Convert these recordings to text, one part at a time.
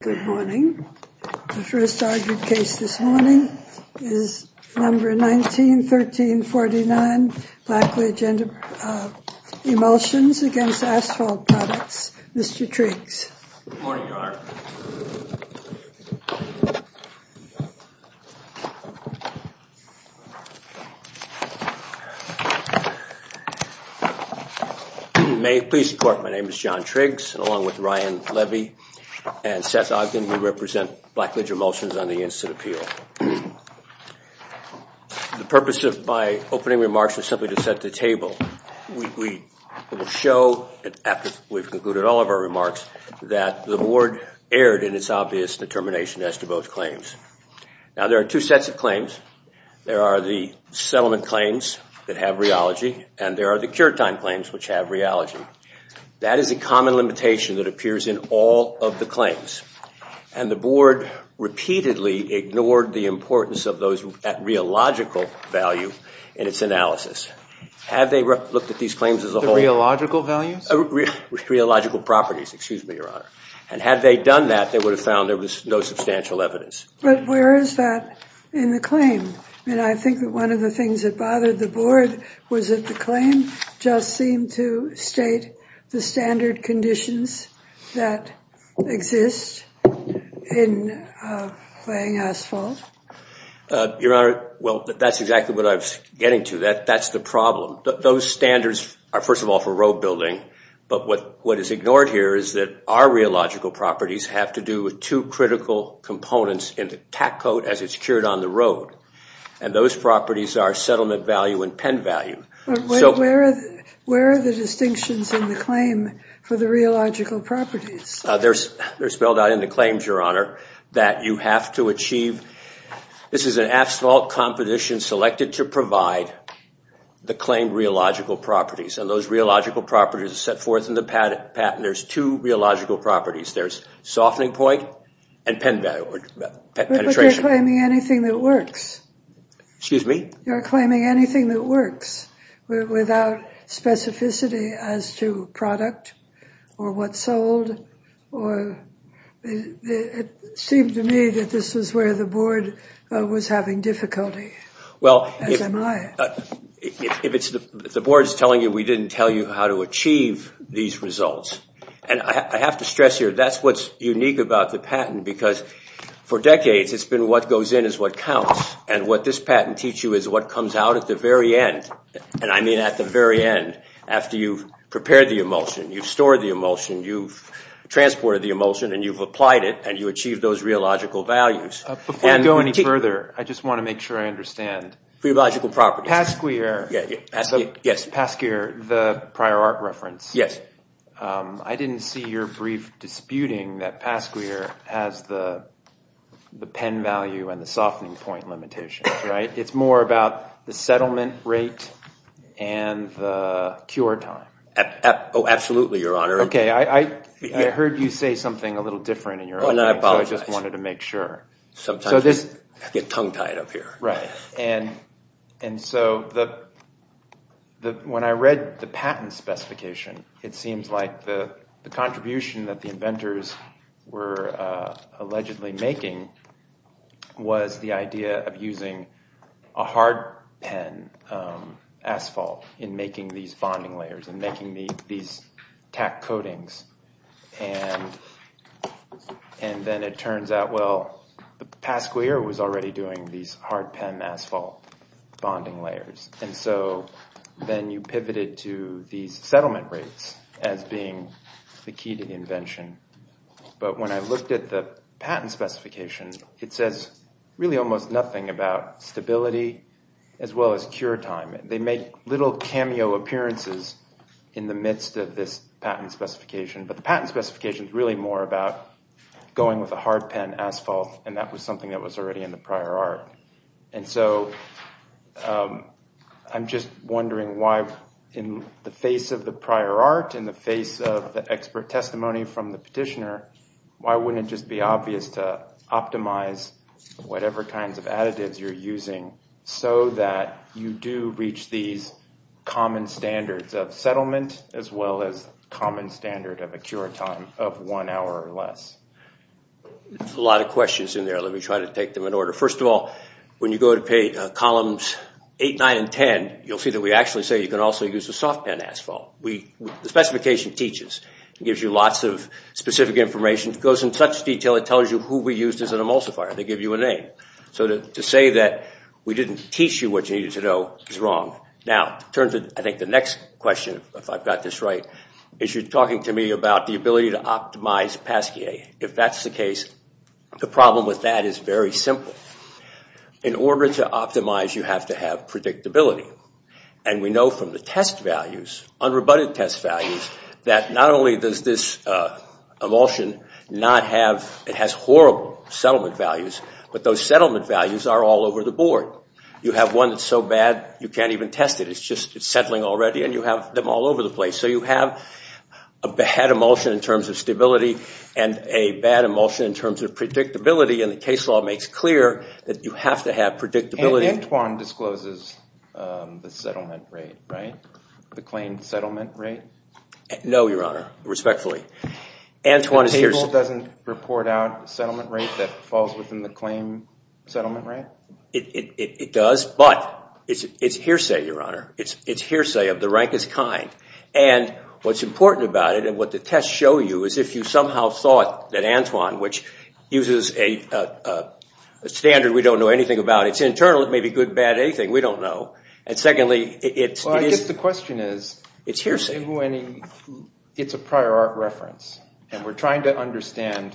Good morning. The first argued case this morning is number 19-1349, Blacklidge Emulsions against Asphalt Products. Mr. Triggs. Good morning, Your Honor. May it please the Court, my name is John Triggs, along with Ryan Levy and Seth Ogden. We represent Blacklidge Emulsions on the Instant Appeal. The purpose of my opening remarks is simply to set the table. We will show, after we've concluded all of our remarks, that the Board erred in its obvious determination as to both claims. Now there are two sets of claims. There are the settlement claims that have rheology and there are the cure time claims which have rheology. That is a common limitation that appears in all of the claims. And the Board repeatedly ignored the importance of those at rheological value in its analysis. Have they looked at these claims as a whole? The rheological values? Rheological properties, excuse me, Your Honor. And had they done that, they would have found there was no substantial evidence. But where is that in the claim? I mean, I think that one of the things that bothered the Board was that the claim just seemed to state the standard conditions that exist in laying asphalt. Your Honor, well, that's exactly what I was getting to. That's the problem. Those standards are, first of all, for road building. But what is ignored here is that our rheological properties have to do with two critical components in the tack coat as it's cured on the road. And those properties are settlement value and pen value. Where are the distinctions in the claim for the rheological properties? They're spelled out in the claims, Your Honor, that you have to achieve. This is an asphalt competition selected to provide the claimed rheological properties. And those rheological properties are set forth in the patent. There's two rheological properties. There's softening point and penetration. But you're claiming anything that works. Excuse me? You're claiming anything that works without specificity as to product or what's sold. It seemed to me that this is where the Board was having difficulty, as am I. The Board is telling you we didn't tell you how to achieve these results. And I have to stress here, that's what's unique about the patent. Because for decades, it's been what goes in is what counts. And what this patent teaches you is what comes out at the very end, and I mean at the very end, after you've prepared the emulsion, you've stored the emulsion, you've transported the emulsion, and you've applied it, and you've achieved those rheological values. Before we go any further, I just want to make sure I understand. Pasquier, the prior art reference, I didn't see your brief disputing that Pasquier has the pen value and the softening point limitations, right? It's more about the settlement rate and the cure time. Absolutely, Your Honor. Okay, I heard you say something a little different in your opening, so I just wanted to make sure. Sometimes we get tongue tied up here. Right. And so when I read the patent specification, it seems like the contribution that the inventors were allegedly making was the idea of using a hard pen asphalt in making these bonding layers and making these tack coatings. And then it turns out, well, Pasquier was already doing these hard pen asphalt bonding layers, and so then you pivoted to these settlement rates as being the key to the invention. But when I looked at the patent specification, it says really almost nothing about stability as well as cure time. They make little cameo appearances in the midst of this patent specification, but the patent specification is really more about going with a hard pen asphalt, and that was something that was already in the prior art. And so I'm just wondering why in the face of the prior art, in the face of the expert testimony from the petitioner, why wouldn't it just be obvious to optimize whatever kinds of additives you're using so that you do reach these common standards of settlement as well as common standard of a cure time of one hour or less? There's a lot of questions in there. Let me try to take them in order. First of all, when you go to columns 8, 9, and 10, you'll see that we actually say you can also use a soft pen asphalt. The specification teaches. It gives you lots of specific information. It goes into such detail, it tells you who we used as an emulsifier. They give you a name. So to say that we didn't teach you what you needed to know is wrong. Now, I think the next question, if I've got this right, is you're talking to me about the ability to optimize Pasquier. If that's the case, the problem with that is very simple. In order to optimize, you have to have predictability. We know from the test values, unrebutted test values, that not only does this emulsion not have – it has horrible settlement values, but those settlement values are all over the board. You have one that's so bad you can't even test it. It's just settling already and you have them all over the place. So you have a bad emulsion in terms of stability and a bad emulsion in terms of predictability and the case law makes clear that you have to have predictability. The Antoine discloses the settlement rate, right? The claimed settlement rate? No, Your Honor, respectfully. The table doesn't report out settlement rate that falls within the claimed settlement rate? It does, but it's hearsay, Your Honor. It's hearsay of the rankest kind. And what's important about it and what the tests show you is if you somehow thought that Antoine, which uses a standard we don't know anything about, it's internal, it may be good, bad, anything, we don't know. Well, I guess the question is, it's a prior art reference and we're trying to understand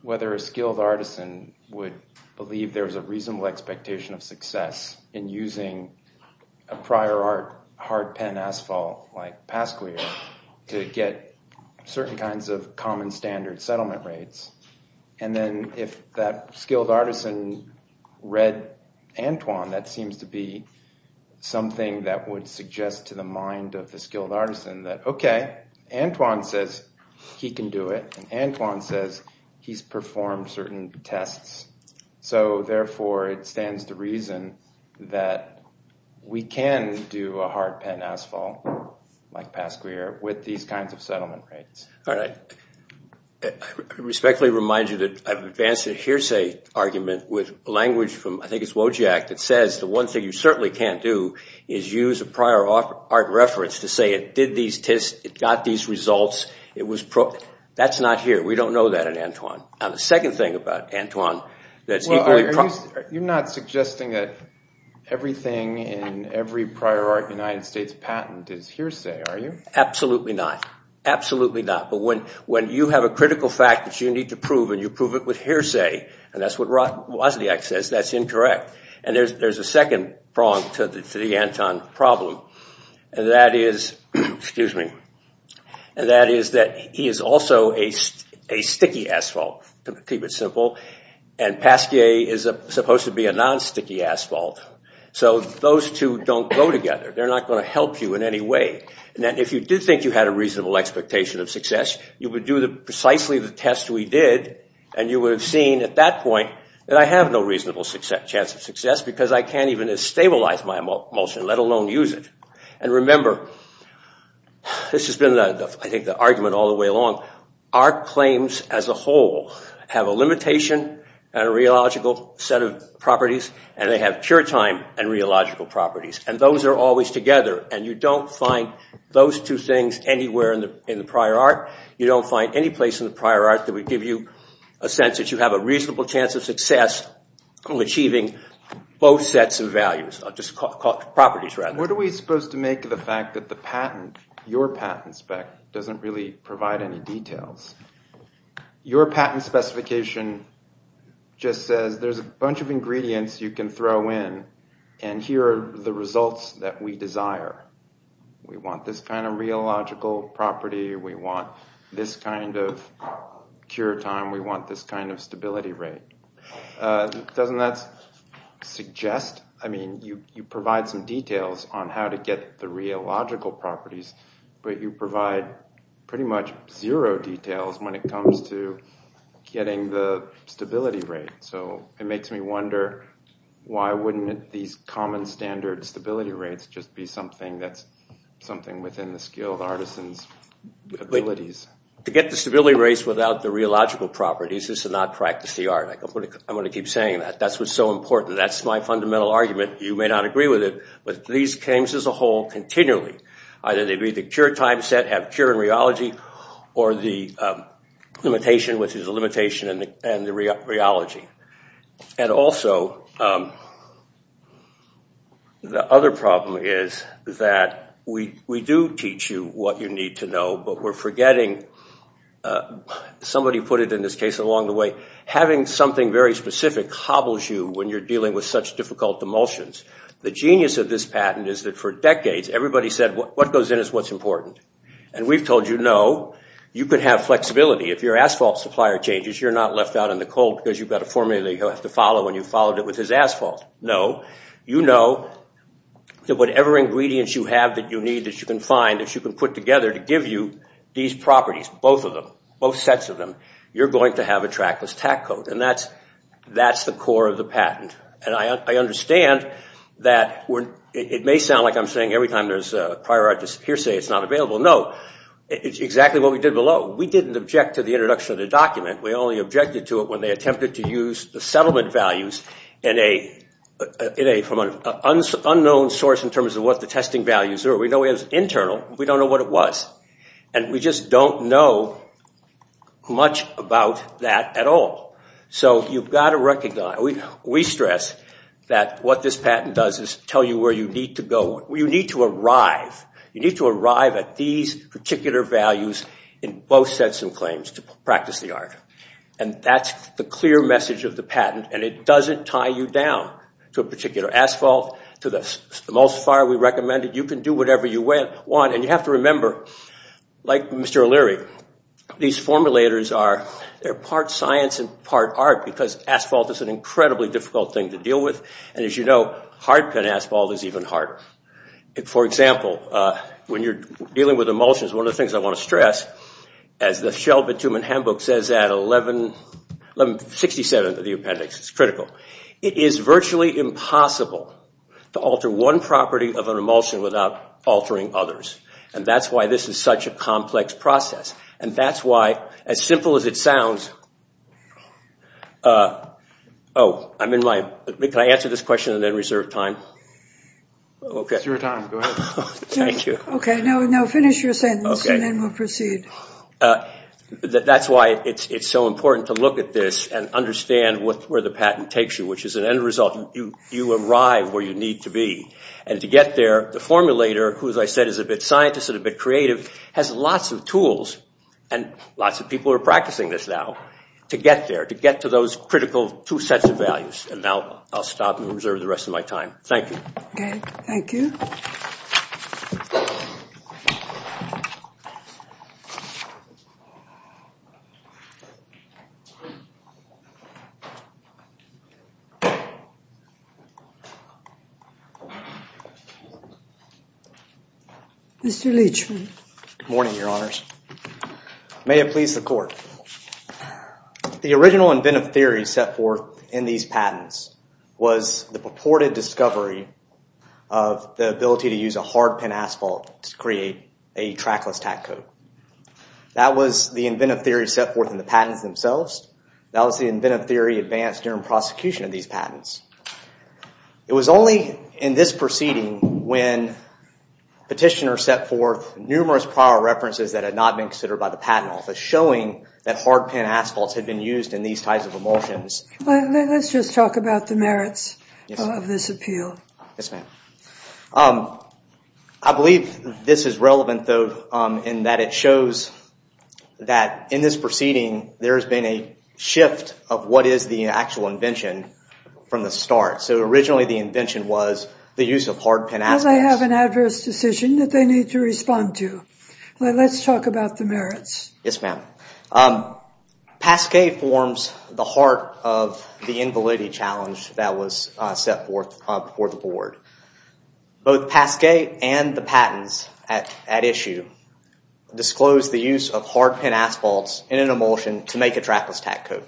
whether a skilled artisan would believe there's a reasonable expectation of success in using a prior art hard pen asphalt like Pasquere to get certain kinds of common standard settlement rates. And then if that skilled artisan read Antoine, that seems to be something that would suggest to the mind of the skilled artisan that, okay, Antoine says he can do it and Antoine says he's performed certain tests. So therefore, it stands to reason that we can do a hard pen asphalt like Pasquere with these kinds of settlement rates. All right. I respectfully remind you that I've advanced a hearsay argument with language from, I think it's Wojak, that says the one thing you certainly can't do is use a prior art reference to say it did these tests, it got these results. That's not here. We don't know that in Antoine. Now, the second thing about Antoine that's equally... Well, you're not suggesting that everything in every prior art United States patent is hearsay, are you? Absolutely not. Absolutely not. But when you have a critical fact that you need to prove and you prove it with hearsay, and that's what Wojak says, that's incorrect. And there's a second prong to the Antoine problem, and that is that he is also a sticky asphalt, to keep it simple, and Pasquere is supposed to be a non-sticky asphalt. So those two don't go together. They're not going to help you in any way. And if you did think you had a reasonable expectation of success, you would do precisely the test we did, and you would have seen at that point that I have no reasonable chance of success because I can't even stabilize my emulsion, let alone use it. And remember, this has been, I think, the argument all the way along. Art claims as a whole have a limitation and a rheological set of properties, and they have pure time and rheological properties. And those are always together, and you don't find those two things anywhere in the prior art. You don't find any place in the prior art that would give you a sense that you have a reasonable chance of success in achieving both sets of values, properties rather. What are we supposed to make of the fact that the patent, your patent spec, doesn't really provide any details? Your patent specification just says there's a bunch of ingredients you can throw in, and here are the results that we desire. We want this kind of rheological property. We want this kind of pure time. We want this kind of stability rate. Doesn't that suggest, I mean, you provide some details on how to get the rheological properties, but you provide pretty much zero details when it comes to getting the stability rate. So it makes me wonder why wouldn't these common standard stability rates just be something that's something within the skilled artisan's abilities? To get the stability rates without the rheological properties is to not practice the art. I'm going to keep saying that. That's what's so important. That's my fundamental argument. You may not agree with it, but these claims as a whole continually. Either they be the pure time set, have pure rheology, or the limitation, which is the limitation and the rheology. Also, the other problem is that we do teach you what you need to know, but we're forgetting, somebody put it in this case along the way, having something very specific hobbles you when you're dealing with such difficult emulsions. The genius of this patent is that for decades, everybody said what goes in is what's important. We've told you, no, you can have flexibility. If your asphalt supplier changes, you're not left out in the cold because you've got a formula you have to follow and you followed it with his asphalt. No, you know that whatever ingredients you have that you need that you can find, that you can put together to give you these properties, both of them, both sets of them, you're going to have a trackless tack coat. That's the core of the patent. I understand that it may sound like I'm saying every time there's a prior art hearsay it's not available. No, it's exactly what we did below. We didn't object to the introduction of the document. We only objected to it when they attempted to use the settlement values from an unknown source in terms of what the testing values are. We know it was internal. We don't know what it was. We just don't know much about that at all. You've got to recognize, we stress that what this patent does is tell you where you need to go. You need to arrive. You need to arrive at these particular values in both sets of claims to practice the art. That's the clear message of the patent and it doesn't tie you down to a particular asphalt, to the most far we recommend it. You can do whatever you want and you have to remember, like Mr. O'Leary, these formulators are part science and part art because asphalt is an incredibly difficult thing to deal with. As you know, hard pen asphalt is even harder. For example, when you're dealing with emulsions, one of the things I want to stress, as the Shelby-Tubman handbook says at 67 of the appendix, it's critical, it is virtually impossible to alter one property of an emulsion without altering others. That's why this is such a complex process. That's why, as simple as it sounds... Oh, can I answer this question and then reserve time? It's your time, go ahead. Thank you. Okay, now finish your sentence and then we'll proceed. That's why it's so important to look at this and understand where the patent takes you, which is an end result. You arrive where you need to be and to get there, the formulator, who as I said is a bit scientist and a bit creative, has lots of tools and lots of people are practicing this now to get there, to get to those critical two sets of values. And now I'll stop and reserve the rest of my time. Thank you. Okay, thank you. Mr. Leachman. Good morning, Your Honors. May it please the Court. The original inventive theory set forth in these patents was the purported discovery of the ability to use a hard-pin asphalt to create a trackless tack coat. That was the inventive theory set forth in the patents themselves. That was the inventive theory advanced during prosecution of these patents. It was only in this proceeding when petitioners set forth numerous prior references that had not been considered by the patent office showing that hard-pin asphalt had been used in these types of emulsions. Let's just talk about the merits of this appeal. Yes, ma'am. I believe this is relevant, though, in that it shows that in this proceeding there has been a shift of what is the actual invention from the start. So originally the invention was the use of hard-pin asphalt. Well, they have an adverse decision that they need to respond to. Let's talk about the merits. Yes, ma'am. Pasquet forms the heart of the invalidity challenge that was set forth before the Board. Both Pasquet and the patents at issue disclose the use of hard-pin asphalt in an emulsion to make a trackless tack coat.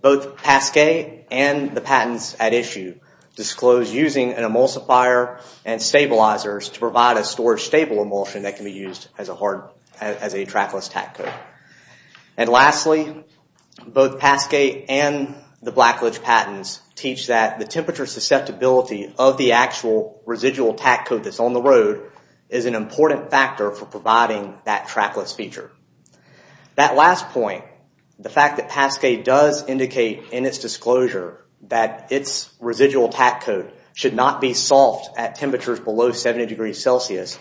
Both Pasquet and the patents at issue disclose using an emulsifier and stabilizers to provide a storage-stable emulsion that can be used as a trackless tack coat. And lastly, both Pasquet and the Blackledge patents teach that the temperature susceptibility of the actual residual tack coat that's on the road is an important factor for providing that trackless feature. That last point, the fact that Pasquet does indicate in its disclosure that its residual tack coat should not be soft at temperatures below 70 degrees Celsius,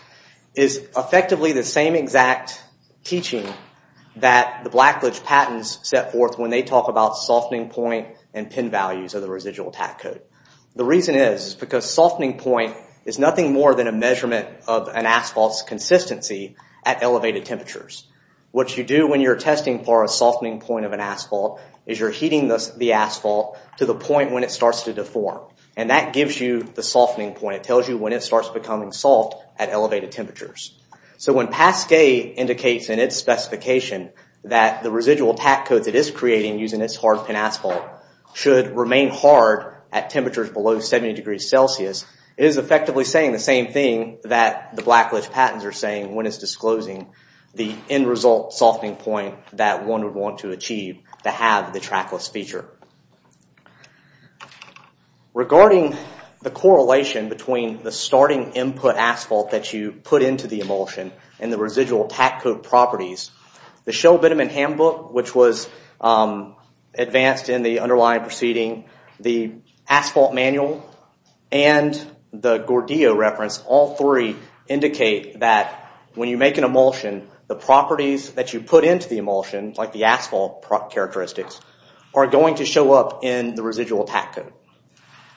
is effectively the same exact teaching that the Blackledge patents set forth when they talk about softening point and pin values of the residual tack coat. The reason is because softening point is nothing more than a measurement of an asphalt's consistency at elevated temperatures. What you do when you're testing for a softening point of an asphalt is you're heating the asphalt to the point when it starts to deform. And that gives you the softening point. It tells you when it starts becoming soft at elevated temperatures. So when Pasquet indicates in its specification that the residual tack coat it is creating using its hard-pin asphalt should remain hard at temperatures below 70 degrees Celsius, it is effectively saying the same thing that the Blackledge patents are saying when it's disclosing the end result softening point that one would want to achieve to have the trackless feature. Regarding the correlation between the starting input asphalt that you put into the emulsion and the residual tack coat properties, the Shell-Bittemann handbook, which was advanced in the underlying proceeding, the asphalt manual, and the Gordillo reference, all three indicate that when you make an emulsion the properties that you put into the emulsion, like the asphalt characteristics, are going to show up in the residual tack coat.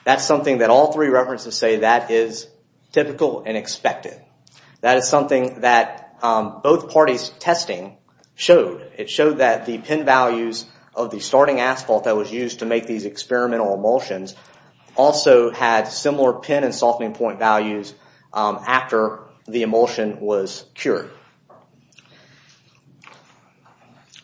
That's something that all three references say that is typical and expected. That is something that both parties' testing showed. It showed that the pin values of the starting asphalt that was used to make these experimental emulsions also had similar pin and softening point values after the emulsion was cured.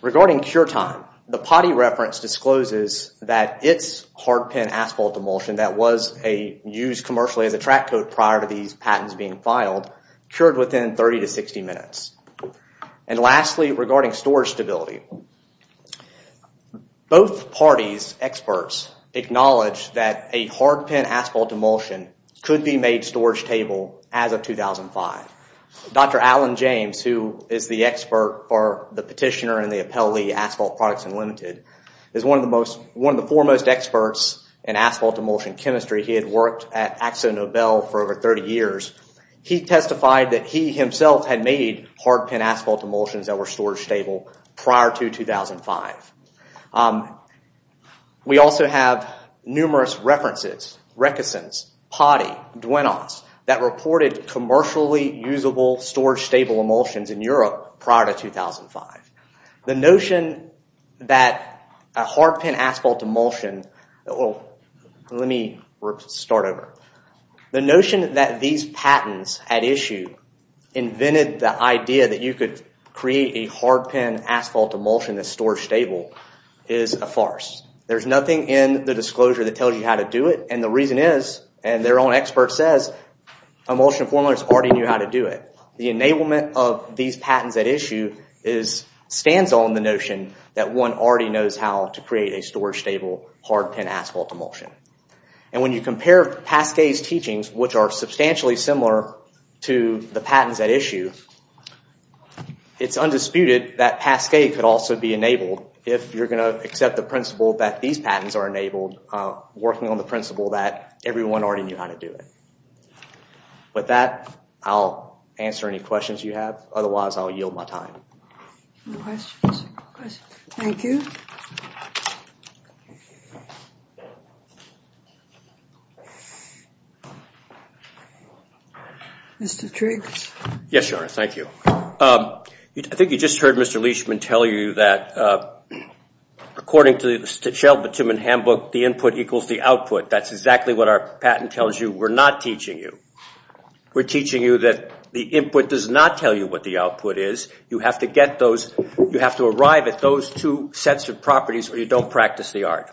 Regarding cure time, the Potti reference discloses that its hard-pin asphalt emulsion that was used commercially as a track coat prior to these patents being filed cured within 30 to 60 minutes. And lastly, regarding storage stability, both parties' experts acknowledge that a hard-pin asphalt emulsion could be made storage stable as of 2005. Dr. Alan James, who is the expert for the Petitioner and the Appellee Asphalt Products Unlimited, is one of the foremost experts in asphalt emulsion chemistry. He had worked at AxoNobel for over 30 years. He testified that he himself had made hard-pin asphalt emulsions that were storage stable prior to 2005. We also have numerous references, Rickesons, Potti, Duenos, that reported commercially usable storage stable emulsions in Europe prior to 2005. The notion that a hard-pin asphalt emulsion... Let me start over. The notion that these patents at issue invented the idea that you could create a hard-pin asphalt emulsion that's storage stable is a farce. There's nothing in the disclosure that tells you how to do it, and the reason is, and their own expert says, emulsion formulators already knew how to do it. The enablement of these patents at issue stands on the notion that one already knows how to create a storage stable hard-pin asphalt emulsion. When you compare Pasquet's teachings, which are substantially similar to the patents at issue, it's undisputed that Pasquet could also be enabled, if you're going to accept the principle that these patents are enabled, working on the principle that everyone already knew how to do it. With that, I'll answer any questions you have. Otherwise, I'll yield my time. Any questions? Thank you. Mr. Triggs? Yes, Your Honor. Thank you. I think you just heard Mr. Leishman tell you that according to the Sheldon Timmons handbook, the input equals the output. That's exactly what our patent tells you. We're not teaching you. We're teaching you that the input does not tell you what the output is. You have to arrive at those two sets of properties or you don't practice the art.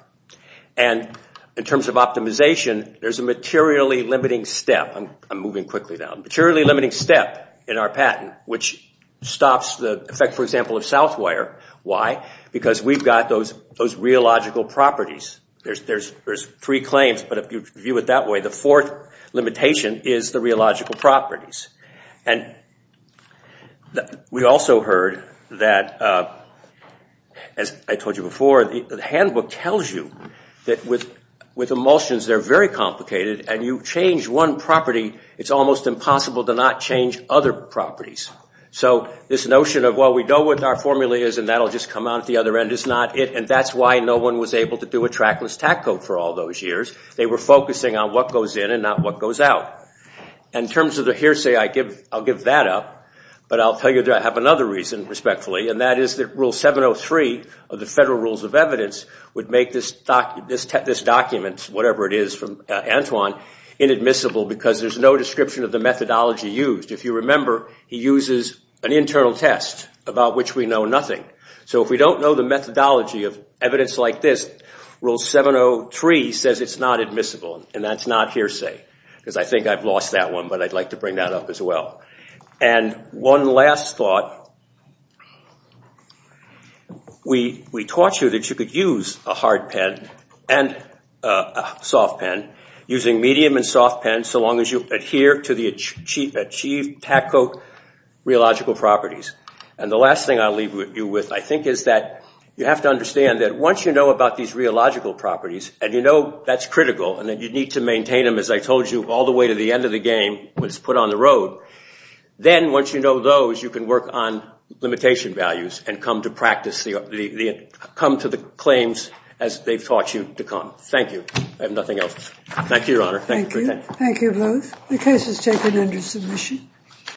In terms of optimization, there's a materially limiting step. I'm moving quickly now. A materially limiting step in our patent, which stops the effect, for example, of Southwire. Why? Because we've got those rheological properties. There's three claims, but if you view it that way, the fourth limitation is the rheological properties. We also heard that, as I told you before, the handbook tells you that with emulsions, they're very complicated. And you change one property, it's almost impossible to not change other properties. So this notion of, well, we know what our formula is and that will just come out at the other end, is not it. And that's why no one was able to do a trackless tactical for all those years. They were focusing on what goes in and not what goes out. In terms of the hearsay, I'll give that up, but I'll tell you that I have another reason, respectfully, and that is that Rule 703 of the Federal Rules of Evidence would make this document, whatever it is from Antoine, inadmissible because there's no description of the methodology used. If you remember, he uses an internal test about which we know nothing. So if we don't know the methodology of evidence like this, Rule 703 says it's not admissible, and that's not hearsay because I think I've lost that one, but I'd like to bring that up as well. And one last thought, we taught you that you could use a hard pen and a soft pen, using medium and soft pens so long as you adhere to the achieved tactical rheological properties. And the last thing I'll leave you with, I think, is that you have to understand that once you know about these rheological properties and you know that's critical and that you need to maintain them, as I told you, all the way to the end of the game, when it's put on the road, then once you know those, you can work on limitation values and come to the claims as they've taught you to come. Thank you. I have nothing else. Thank you, Your Honor. Thank you. Thank you both. The case is taken under submission.